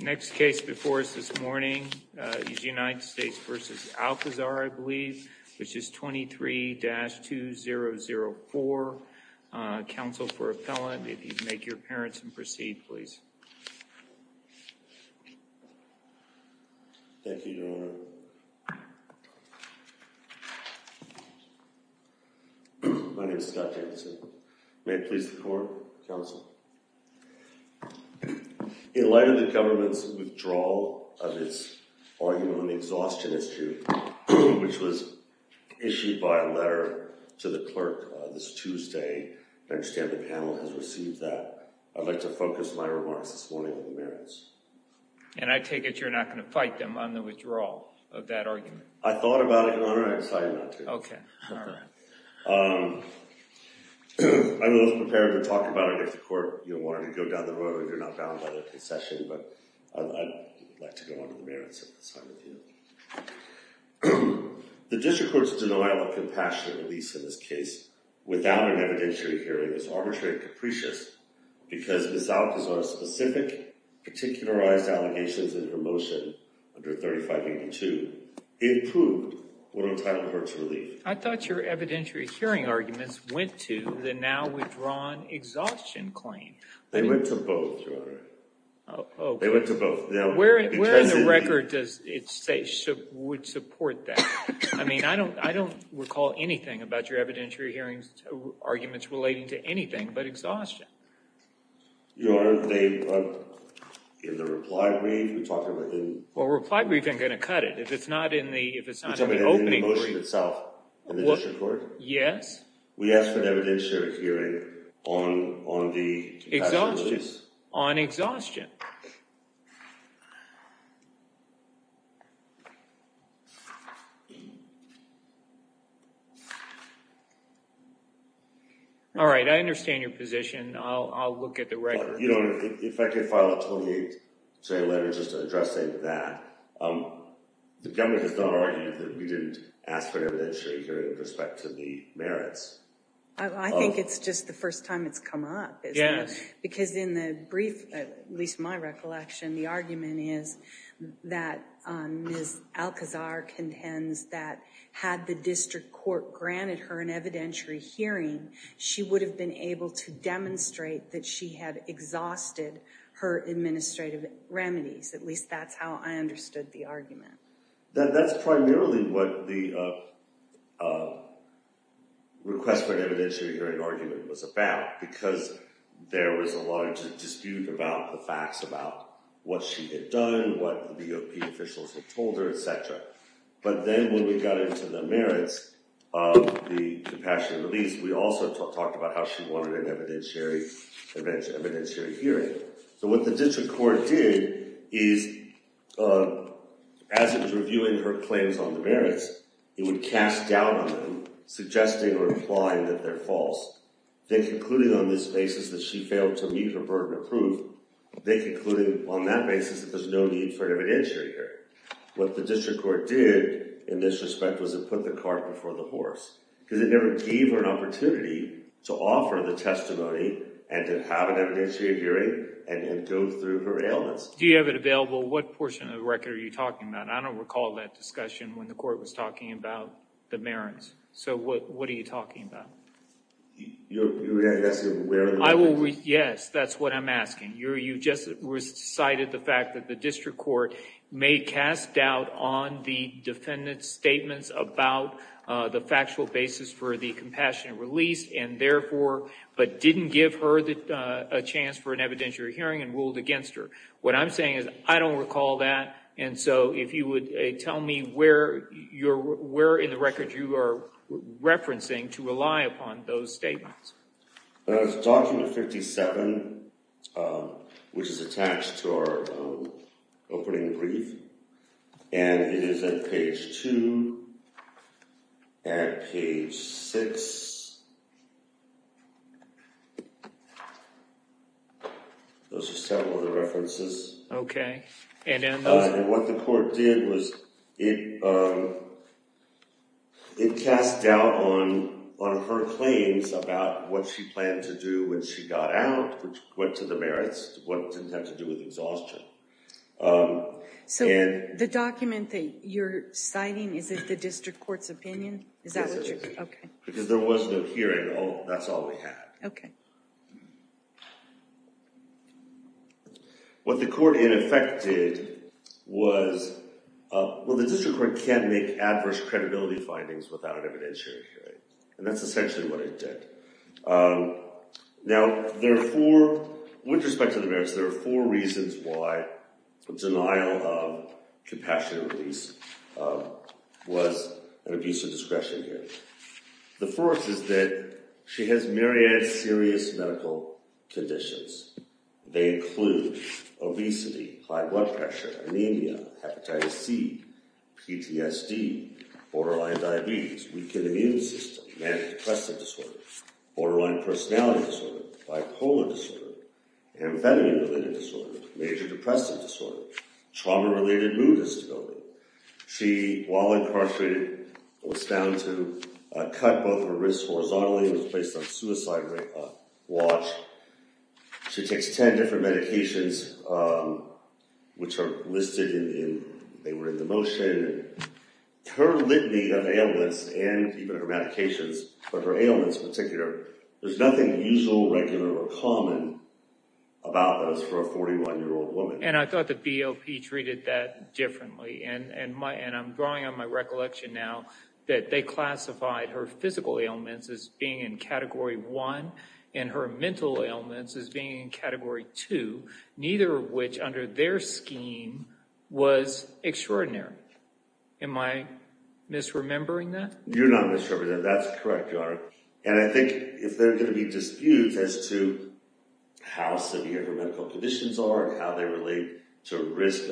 Next case before us this morning is United States v. Alcazar, I believe, which is 23-2004. Counsel for Appellant, if you'd make your appearance and proceed, please. Thank you, Your Honor. My name is Scott Jacobson. May it please the Court, Counsel. In light of the government's withdrawal of its argument on the exhaustion issue, which was issued by a letter to the clerk this Tuesday, I understand the panel has received that. I'd like to focus my remarks this morning on the merits. And I take it you're not going to fight them on the withdrawal of that argument? I thought about it, Your Honor. I decided not to. Okay. All right. I'm always prepared to talk about it if the Court wanted to go down the road. You're not bound by the concession, but I'd like to go on to the merits of this argument. The District Court's denial of compassionate release in this case without an evidentiary hearing is arbitrary and capricious because Ms. Alcazar's specific, particularized allegations in her motion under 3582 improve what are entitled to her to relieve. I thought your evidentiary hearing arguments went to the now withdrawn exhaustion claim. They went to both, Your Honor. Oh, okay. They went to both. Where in the record does it say would support that? I mean, I don't recall anything about your evidentiary hearings arguments relating to anything but exhaustion. Your Honor, they were in the reply brief. Well, reply brief isn't going to cut it. You're talking about in the motion itself in the District Court? Yes. We asked for an evidentiary hearing on the compassion release. Exhaustion. On exhaustion. All right. I understand your position. I'll look at the record. Your Honor, if I could file a 28-J letter just addressing that. The government has not argued that we didn't ask for an evidentiary hearing with respect to the merits. I think it's just the first time it's come up. Yes. Because in the brief, at least my recollection, the argument is that Ms. Alcazar contends that had the District Court granted her an evidentiary hearing, she would have been able to demonstrate that she had exhausted her administrative remedies. At least that's how I understood the argument. That's primarily what the request for an evidentiary hearing argument was about because there was a larger dispute about the facts about what she had done, what the DOP officials had told her, et cetera. But then when we got into the merits of the compassion release, we also talked about how she wanted an evidentiary hearing. So what the District Court did is, as it was reviewing her claims on the merits, it would cast doubt on them, suggesting or implying that they're false. Then concluding on this basis that she failed to meet her burden of proof, they concluded on that basis that there's no need for an evidentiary hearing. What the District Court did in this respect was it put the cart before the horse because it never gave her an opportunity to offer the testimony and to have an evidentiary hearing and go through her ailments. Do you have it available? What portion of the record are you talking about? I don't recall that discussion when the court was talking about the merits. So what are you talking about? You're asking where in the record? Yes, that's what I'm asking. You just cited the fact that the District Court may cast doubt on the defendant's statements about the factual basis for the compassionate release and therefore, but didn't give her a chance for an evidentiary hearing and ruled against her. What I'm saying is I don't recall that. And so if you would tell me where in the record you are referencing to rely upon those statements. It's document 57, which is attached to our opening brief. And it is at page 2 and page 6. Those are several of the references. Okay. And what the court did was it cast doubt on her claims about what she planned to do when she got out, which went to the merits, what it didn't have to do with exhaustion. So the document that you're citing, is it the District Court's opinion? Yes, it is. Okay. Because there was no hearing. That's all we had. Okay. What the court, in effect, did was, well, the District Court can't make adverse credibility findings without an evidentiary hearing. And that's essentially what it did. Now, there are four, with respect to the merits, there are four reasons why the denial of compassionate release was an abuse of discretion here. The first is that she has myriad serious medical conditions. They include obesity, high blood pressure, anemia, hepatitis C, PTSD, borderline diabetes, weakened immune system, manic-depressive disorder, borderline personality disorder, bipolar disorder, amphetamine-related disorder, major depressive disorder, trauma-related mood instability. She, while incarcerated, was found to cut both her wrists horizontally and was placed on suicide watch. She takes 10 different medications, which are listed in, they were in the motion. Her litany of ailments, and even her medications, but her ailments in particular, there's nothing usual, regular, or common about those for a 41-year-old woman. And I thought the BOP treated that differently. And I'm drawing on my recollection now that they classified her physical ailments as being in Category 1 and her mental ailments as being in Category 2, neither of which, under their scheme, was extraordinary. Am I misremembering that? You're not misremembering that. That's correct, Your Honor. And I think if there are going to be disputes as to how severe her medical conditions are, how they relate to risk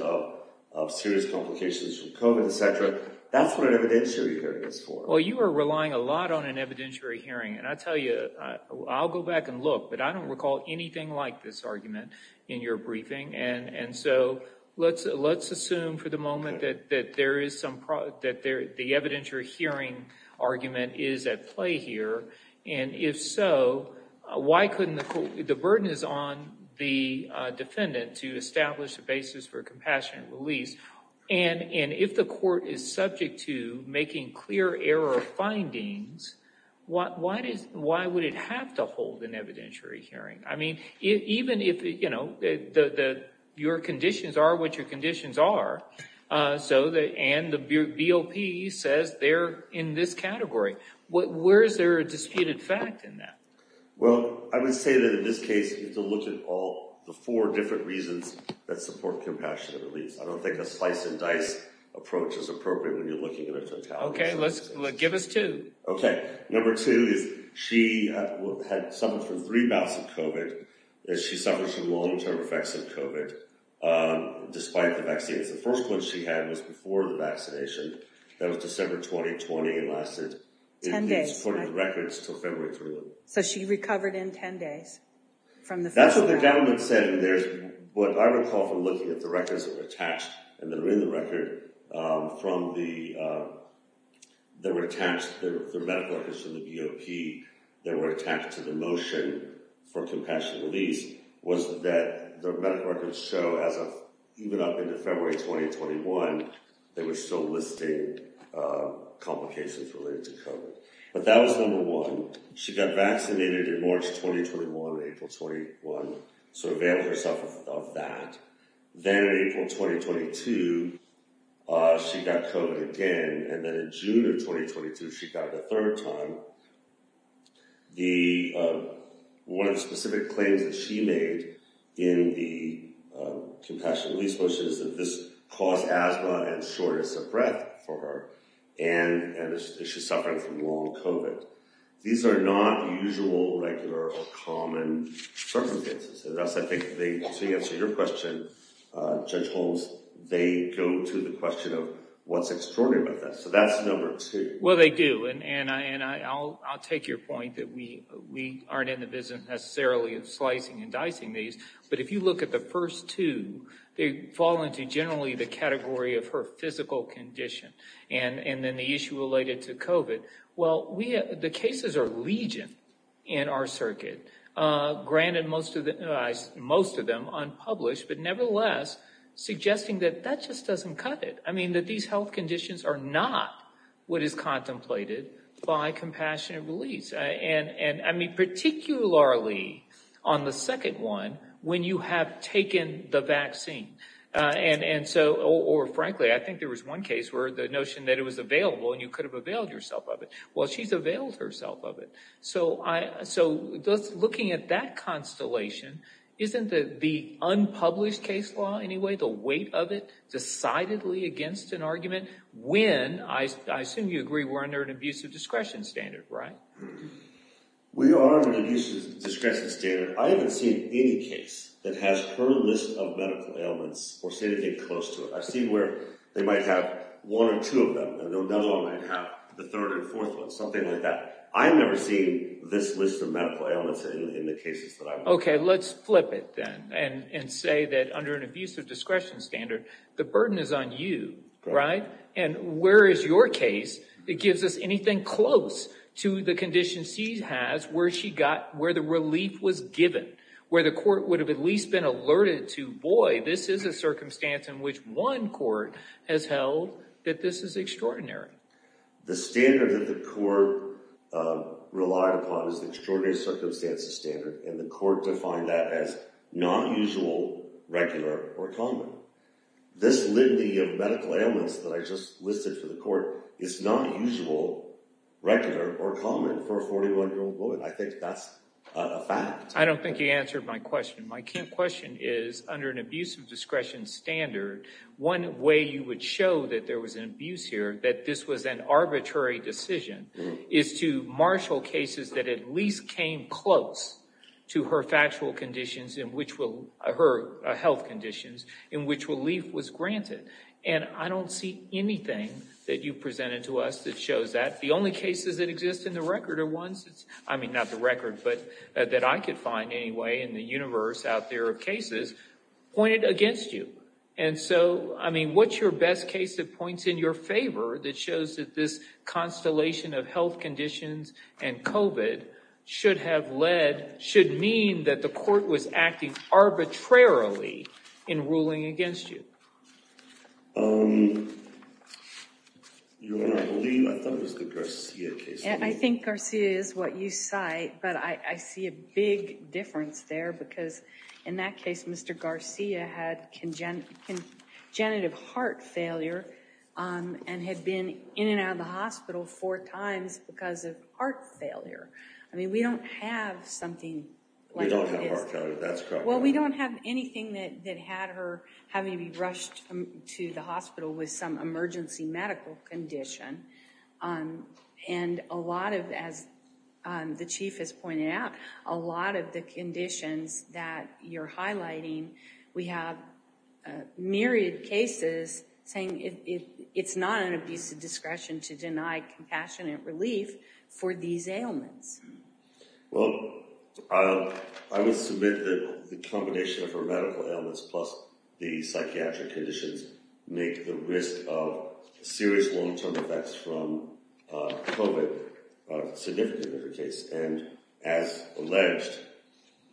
of serious complications from COVID, et cetera, that's what an evidentiary hearing is for. Well, you are relying a lot on an evidentiary hearing. And I tell you, I'll go back and look, but I don't recall anything like this argument in your briefing. And so let's assume for the moment that the evidentiary hearing argument is at play here. And if so, the burden is on the defendant to establish a basis for compassionate release. And if the court is subject to making clear error findings, why would it have to hold an evidentiary hearing? I mean, even if your conditions are what your conditions are, and the BOP says they're in this category, where is there a disputed fact in that? Well, I would say that in this case, you have to look at all the four different reasons that support compassionate release. I don't think a slice-and-dice approach is appropriate when you're looking at a fatality. Okay, give us two. Okay, number two is she had suffered from three bouts of COVID. She suffered from long-term effects of COVID, despite the vaccines. The first one she had was before the vaccination. That was December 2020. It lasted – Ten days. – according to records, until February 3rd. So she recovered in 10 days from the first round. That's what the government said. And there's – what I recall from looking at the records that were attached, and that are in the record, from the – that were attached – the medical records from the BOP that were attached to the motion for compassionate release was that the medical records show, as of – even up into February 2021, they were still listing complications related to COVID. But that was number one. She got vaccinated in March 2021 and April 2021, so availed herself of that. Then in April 2022, she got COVID again. And then in June of 2022, she got it a third time. The – one of the specific claims that she made in the compassionate release motion is that this caused asthma and shortness of breath for her, and she's suffering from long COVID. These are not usual, regular, or common circumstances. And thus, I think they – to answer your question, Judge Holmes, they go to the question of what's extraordinary about that. So that's number two. – Well, they do. And I'll take your point that we aren't in the business, necessarily, of slicing and dicing these. But if you look at the first two, they fall into, generally, the category of her physical condition, and then the issue related to COVID. Well, we – the cases are legion in our circuit. Granted, most of them unpublished, but nevertheless, suggesting that that just doesn't cut it. I mean, that these health conditions are not what is contemplated by compassionate release. And, I mean, particularly on the second one, when you have taken the vaccine. And so – or, frankly, I think there was one case where the notion that it was available and you could have availed yourself of it. Well, she's availed herself of it. So looking at that constellation, isn't the unpublished case law, anyway, the weight of it, decidedly against an argument, when – I assume you agree we're under an abusive discretion standard, right? – We are under an abusive discretion standard. I haven't seen any case that has her list of medical ailments or said anything close to it. I've seen where they might have one or two of them, and another one might have the third or fourth one, something like that. I've never seen this list of medical ailments in the cases that I've –– Okay, let's flip it, then, and say that under an abusive discretion standard, the burden is on you, right? And where is your case that gives us anything close to the condition she has, where she got – where the relief was given, where the court would have at least been alerted to, boy, this is a circumstance in which one court has held that this is extraordinary. – The standard that the court relied upon is the extraordinary circumstances standard, and the court defined that as not usual, regular, or common. This litany of medical ailments that I just listed for the court is not usual, regular, or common for a 41-year-old woman. I think that's a fact. – I don't think you answered my question. My question is, under an abusive discretion standard, one way you would show that there was an abuse here, that this was an arbitrary decision, is to marshal cases that at least came close to her factual conditions, her health conditions, in which relief was granted. And I don't see anything that you presented to us that shows that. The only cases that exist in the record are ones – I mean, not the record, but that I could find, anyway, in the universe out there of cases pointed against you. And so, I mean, what's your best case that points in your favor, that shows that this constellation of health conditions and COVID should have led – should mean that the court was acting arbitrarily in ruling against you? – Um... You want me to leave? I thought it was the Garcia case. – I think Garcia is what you cite, but I see a big difference there, because in that case, Mr. Garcia had congenitive heart failure and had been in and out of the hospital four times because of heart failure. I mean, we don't have something like that. – We don't have heart failure. That's correct. – Well, we don't have anything that had her having to be rushed to the hospital with some emergency medical condition. And a lot of, as the Chief has pointed out, a lot of the conditions that you're highlighting, we have myriad cases saying it's not an abuse of discretion to deny compassionate relief for these ailments. – Well, I will submit that the combination of her medical ailments plus the psychiatric conditions make the risk of serious long-term effects from COVID significant in her case. And as alleged,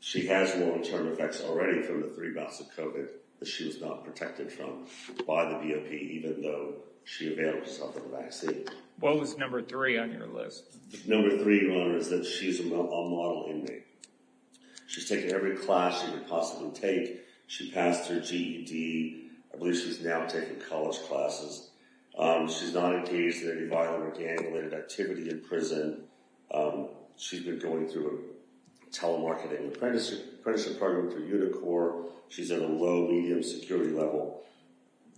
she has long-term effects already from the three bouts of COVID that she was not protected from by the BOP, even though she availed herself of a vaccine. – What was number three on your list? – Number three, Your Honor, is that she's a model inmate. She's taken every class she could possibly take. She passed her GED. I believe she's now taking college classes. She's not engaged in any violent or gang-related activity in prison. She's been going through a telemarketing apprenticeship program through Unicor. She's at a low-medium security level.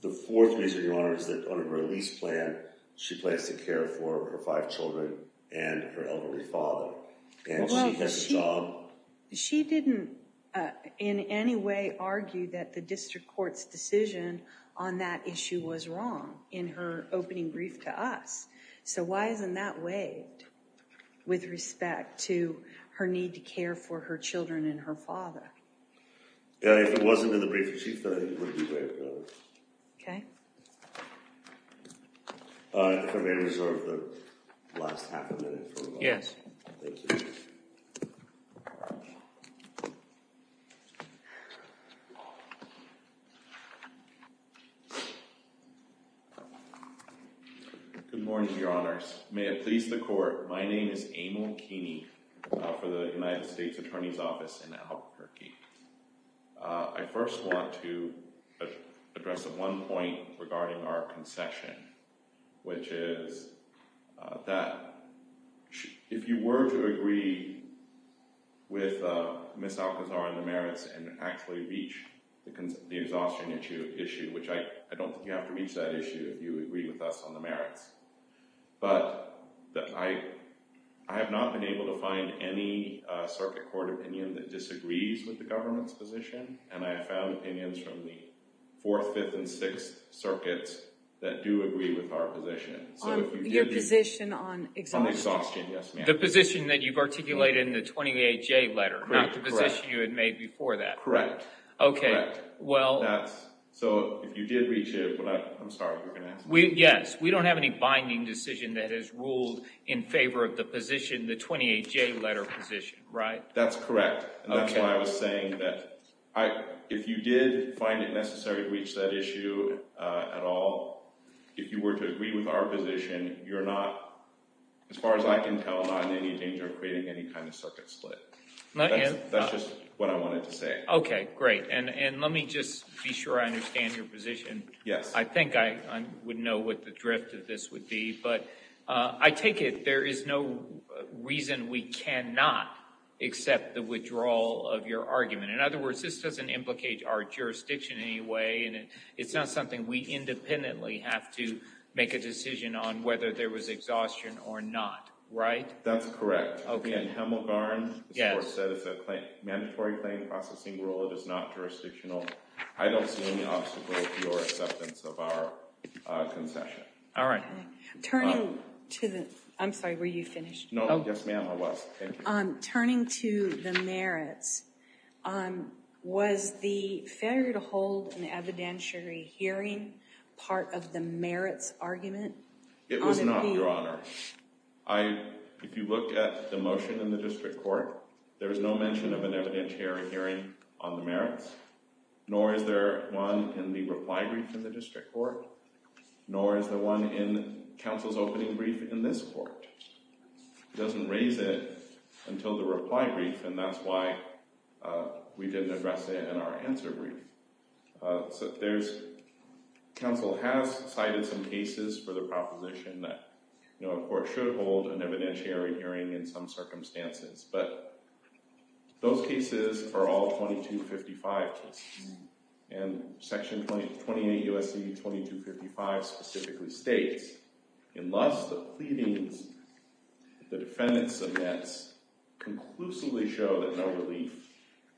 The fourth reason, Your Honor, is that on her release plan, she plans to care for her five children and her elderly father. – Well, she didn't in any way argue that the district court's decision on that issue was wrong in her opening brief to us, so why isn't that waived with respect to her need to care for her children and her father? – If it wasn't in the brief received, then I think it would be waived, Your Honor. – Okay. – If I may reserve the last half a minute. – Yes. – Good morning, Your Honors. May it please the Court, my name is Emil Keeney for the United States Attorney's Office in Albuquerque. I first want to address one point regarding our concession, which is that if you were to agree with Ms. Alcazar on the merits and actually reach the exhaustion issue, which I don't think you have to reach that issue if you agree with us on the merits, but I have not been able to find any circuit court opinion that disagrees with the government's position, and I have found opinions from the Fourth, Fifth, and Sixth Circuits that do agree with our position. – On your position on exhaustion? – On exhaustion, yes, ma'am. – The position that you've articulated in the 28J letter, not the position you had made before that. – Correct. – Okay, well... – So if you did reach it, but I'm sorry, you're going to have to... – Yes, we don't have any binding decision that has ruled in favor of the position, the 28J letter position, right? – That's correct. That's why I was saying that if you did find it necessary to reach that issue at all, if you were to agree with our position, you're not, as far as I can tell, not in any danger of creating any kind of circuit split. That's just what I wanted to say. – Okay, great. And let me just be sure I understand your position. – Yes. – I think I would know what the drift of this would be, but I take it there is no reason we cannot accept the withdrawal of your argument. In other words, this doesn't implicate our jurisdiction in any way, and it's not something we independently have to make a decision on whether there was exhaustion or not, right? – That's correct. – Okay. – In Hemelgarn, the court said it's a mandatory claim processing rule. It is not jurisdictional. I don't see any obstacle to your acceptance of our concession. – All right. Turning to the—I'm sorry, were you finished? – No, yes, ma'am, I was. Thank you. – Turning to the merits, was the failure to hold an evidentiary hearing part of the merits argument? – It was not, Your Honor. If you look at the motion in the district court, there is no mention of an evidentiary hearing on the merits, nor is there one in the reply brief in the district court, nor is there one in counsel's opening brief in this court. It doesn't raise it until the reply brief, and that's why we didn't address it in our answer brief. So there's—counsel has cited some cases for the proposition that, you know, a court should hold an evidentiary hearing in some circumstances, but those cases are all 2255 cases, and Section 28 U.S.C. 2255 specifically states, unless the pleadings the defendant submits conclusively show that no relief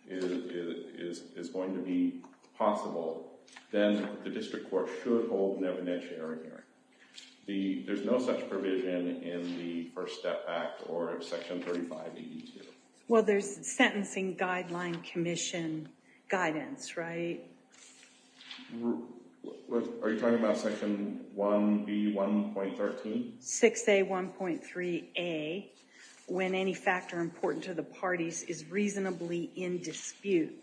is going to be possible, then the district court should hold an evidentiary hearing. – There's no such provision in the First Step Act or Section 3582? – Well, there's sentencing guideline commission guidance, right? – Are you talking about Section 1B.1.13? – 6A.1.3a, when any factor important to the parties is reasonably in dispute,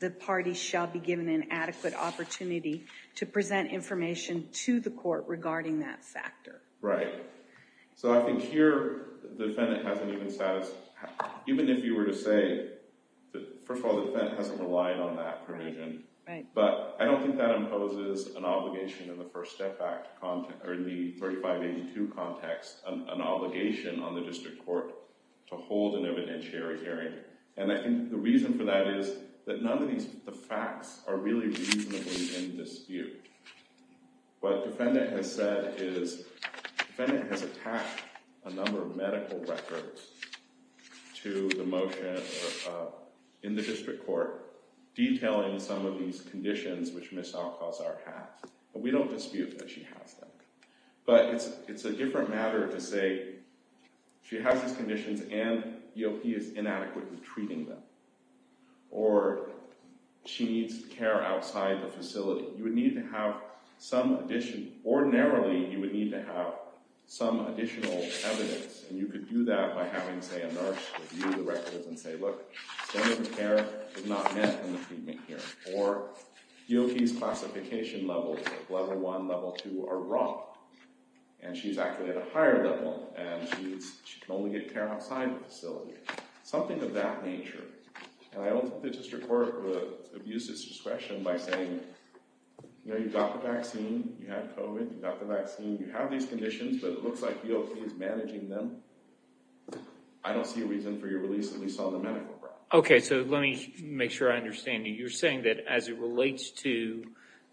the parties shall be given an adequate opportunity to present information to the court regarding that factor. – Right. So I think here, the defendant hasn't even satisfied— even if you were to say that, first of all, the defendant hasn't relied on that provision, but I don't think that imposes an obligation in the First Step Act, or in the 3582 context, an obligation on the district court to hold an evidentiary hearing. And I think the reason for that is that none of these facts are really reasonably in dispute. What the defendant has said is the defendant has attached a number of medical records to the motion in the district court detailing some of these conditions which Ms. Alcazar has. We don't dispute that she has them. But it's a different matter to say she has these conditions and EOP is inadequately treating them. Or she needs care outside the facility. You would need to have some additional— ordinarily, you would need to have some additional evidence, and you could do that by having, say, a nurse review the records and say, look, some of the care is not met in the treatment here. Or EOP's classification levels, Level 1, Level 2, are wrong, and she's actually at a higher level, and she can only get care outside the facility. Something of that nature. And I don't think the district court would abuse its discretion by saying, you know, you've got the vaccine, you have COVID, you've got the vaccine, you have these conditions, but it looks like EOP is managing them. I don't see a reason for your release, at least on the medical ground. Okay, so let me make sure I understand you. You're saying that as it relates to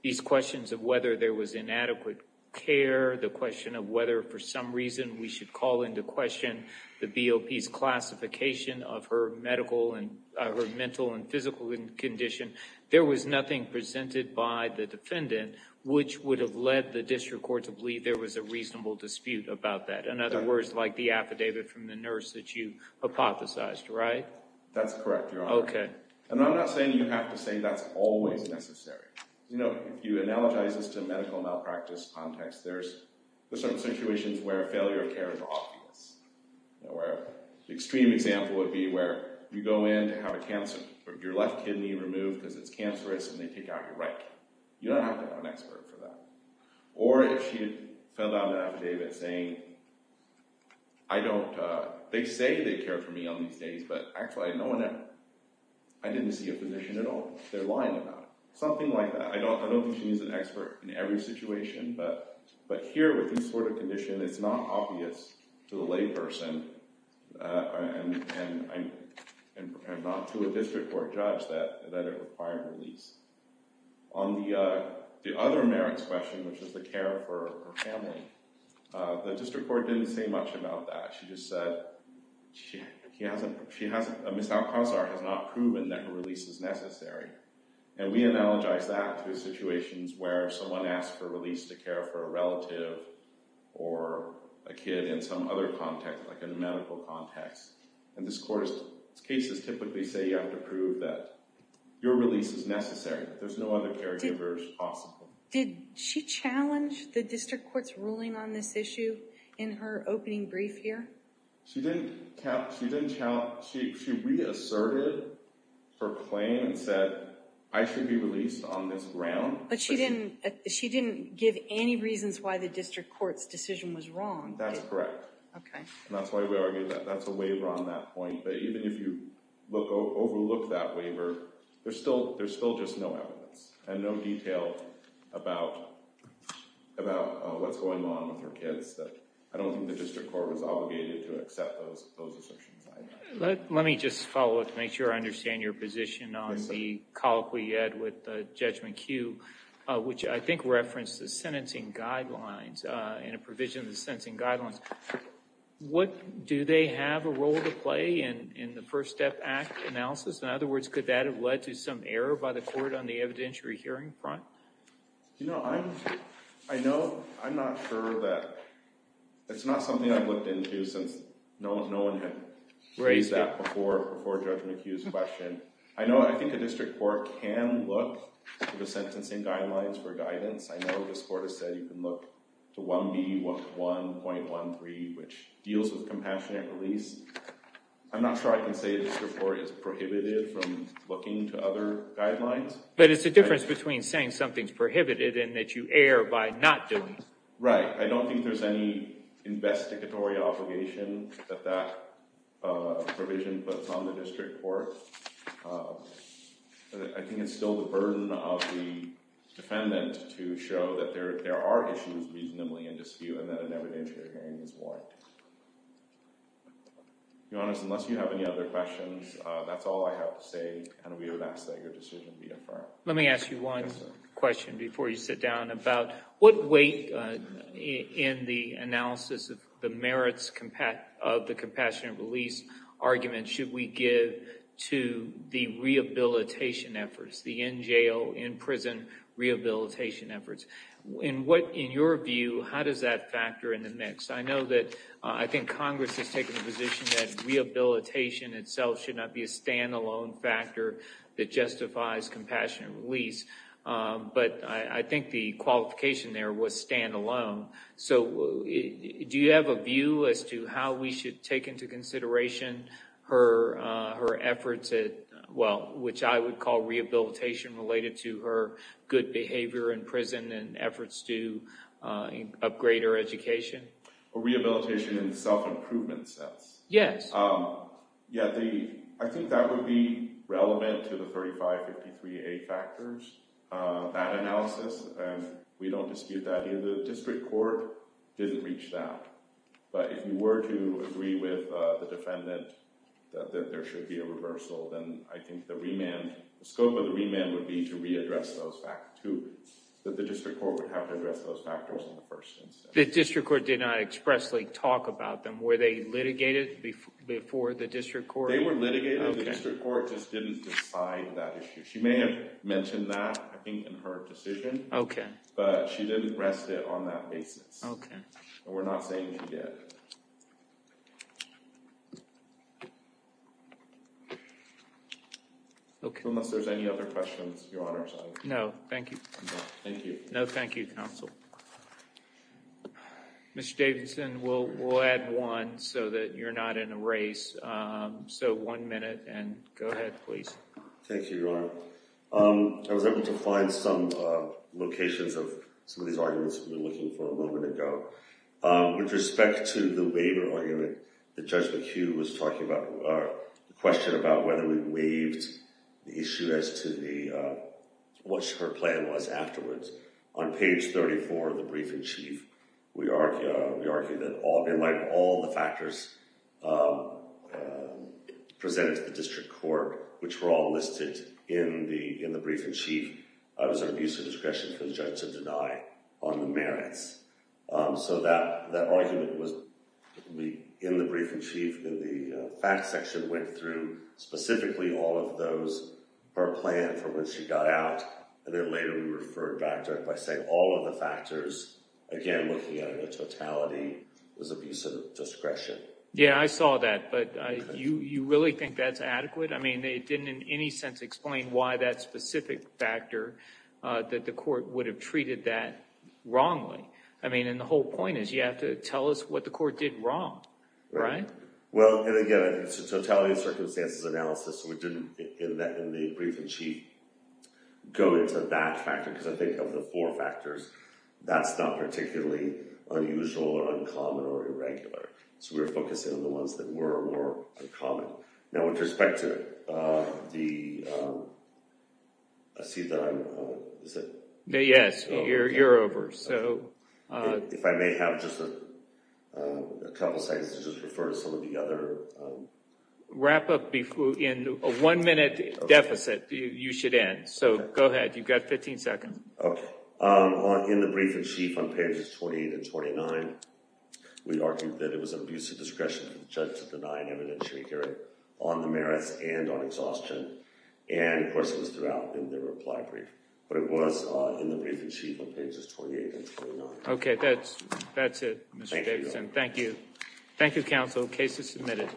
these questions of whether there was inadequate care, the question of whether for some reason we should call into question the BOP's classification of her mental and physical condition, there was nothing presented by the defendant which would have led the district court to believe there was a reasonable dispute about that. In other words, like the affidavit from the nurse that you hypothesized, right? That's correct, Your Honor. Okay. And I'm not saying you have to say that's always necessary. You know, if you analogize this to medical malpractice context, there's certain situations where failure of care is obvious. An extreme example would be where you go in to have a cancer, your left kidney removed because it's cancerous and they take out your right. You don't have to have an expert for that. Or if she had filled out an affidavit saying, they say they care for me on these days, but actually I had no one there. I didn't see a physician at all. They're lying about it. Something like that. I don't think she needs an expert in every situation. But here with this sort of condition, it's not obvious to the layperson, and I'm not to a district court judge that it required release. On the other merits question, which is the care for her family, the district court didn't say much about that. She just said Ms. Alcazar has not proven that her release is necessary. And we analogize that to situations where someone asks for release to care for a relative or a kid in some other context, like a medical context. And this court's cases typically say you have to prove that your release is necessary, that there's no other caregivers possible. Did she challenge the district court's ruling on this issue in her opening brief here? She reasserted her claim and said, I should be released on this ground. But she didn't give any reasons why the district court's decision was wrong. That's correct. OK. And that's why we argue that that's a waiver on that point. But even if you overlook that waiver, there's still just no evidence and no detail about what's going on with her kids. I don't think the district court was obligated to accept those assertions either. Let me just follow up to make sure I understand your position on the colloquy you had with Judgment Q, which I think referenced the sentencing guidelines and a provision of the sentencing guidelines. Do they have a role to play in the First Step Act analysis? In other words, could that have led to some error by the court on the evidentiary hearing front? You know, I'm not sure that it's not something I've looked into since no one had raised that before Judgment Q's question. I think the district court can look to the sentencing guidelines for guidance. I know this court has said you can look to 1B.1.13, which deals with compassionate release. I'm not sure I can say the district court is prohibited from looking to other guidelines. But it's the difference between saying something's prohibited and that you err by not doing it. Right. I don't think there's any investigatory obligation that that provision puts on the district court. I think it's still the burden of the defendant to show that there are issues reasonably in dispute and that an evidentiary hearing is warranted. Your Honor, unless you have any other questions, that's all I have to say. And we would ask that your decision be affirmed. Let me ask you one question before you sit down. About what weight in the analysis of the merits of the compassionate release argument should we give to the rehabilitation efforts, the in-jail, in-prison rehabilitation efforts? I know that I think Congress has taken the position that rehabilitation itself should not be a stand-alone factor that justifies compassionate release. But I think the qualification there was stand-alone. So do you have a view as to how we should take into consideration her efforts, which I would call rehabilitation related to her good behavior in prison and efforts to upgrade her education? Rehabilitation in the self-improvement sense? Yes. I think that would be relevant to the 3553A factors. That analysis, we don't dispute that either. The district court didn't reach that. But if you were to agree with the defendant that there should be a reversal, then I think the scope of the remand would be to readdress those two. The district court would have to address those factors in the first instance. The district court did not expressly talk about them. Were they litigated before the district court? They were litigated. The district court just didn't decide that issue. She may have mentioned that, I think, in her decision. But she didn't rest it on that basis. Okay. We're not saying she did. Unless there's any other questions, Your Honor. No, thank you. No, thank you, counsel. Mr. Davidson, we'll add one so that you're not in a race. Thank you, Your Honor. I was able to find some locations of some of these arguments that we were looking for a moment ago. With respect to the waiver argument that Judge McHugh was talking about, the question about whether we waived the issue as to what her plan was afterwards, on page 34 of the briefing, Chief, we argue that in light of all the factors presented to the district court, which were all listed in the briefing, Chief, it was an abuse of discretion for the judge to deny on the merits. So that argument was in the briefing, Chief. The fact section went through specifically all of those, her plan for when she got out, and then later we referred back to it by saying all of the factors, again, looking at it in totality, was abuse of discretion. Yeah, I saw that. But you really think that's adequate? I mean, it didn't in any sense explain why that specific factor, that the court would have treated that wrongly. I mean, and the whole point is you have to tell us what the court did wrong. Right? Well, and again, it's a totality of circumstances analysis. We didn't, in the briefing, Chief, go into that factor because I think of the four factors, that's not particularly unusual or uncommon or irregular. So we were focusing on the ones that were more common. Now, with respect to the, I see that I'm, is it? Yes, you're over, so. If I may have just a couple of seconds to just refer to some of the other. Wrap up in a one-minute deficit, you should end. So go ahead, you've got 15 seconds. Okay. In the briefing, Chief, on pages 28 and 29, we argued that it was an abuse of discretion for the judge to deny an evidentiary hearing on the merits and on exhaustion. And, of course, it was throughout in the reply brief. But it was in the briefing, Chief, on pages 28 and 29. Okay, that's it, Mr. Davidson. Thank you. Thank you, counsel. Case is submitted.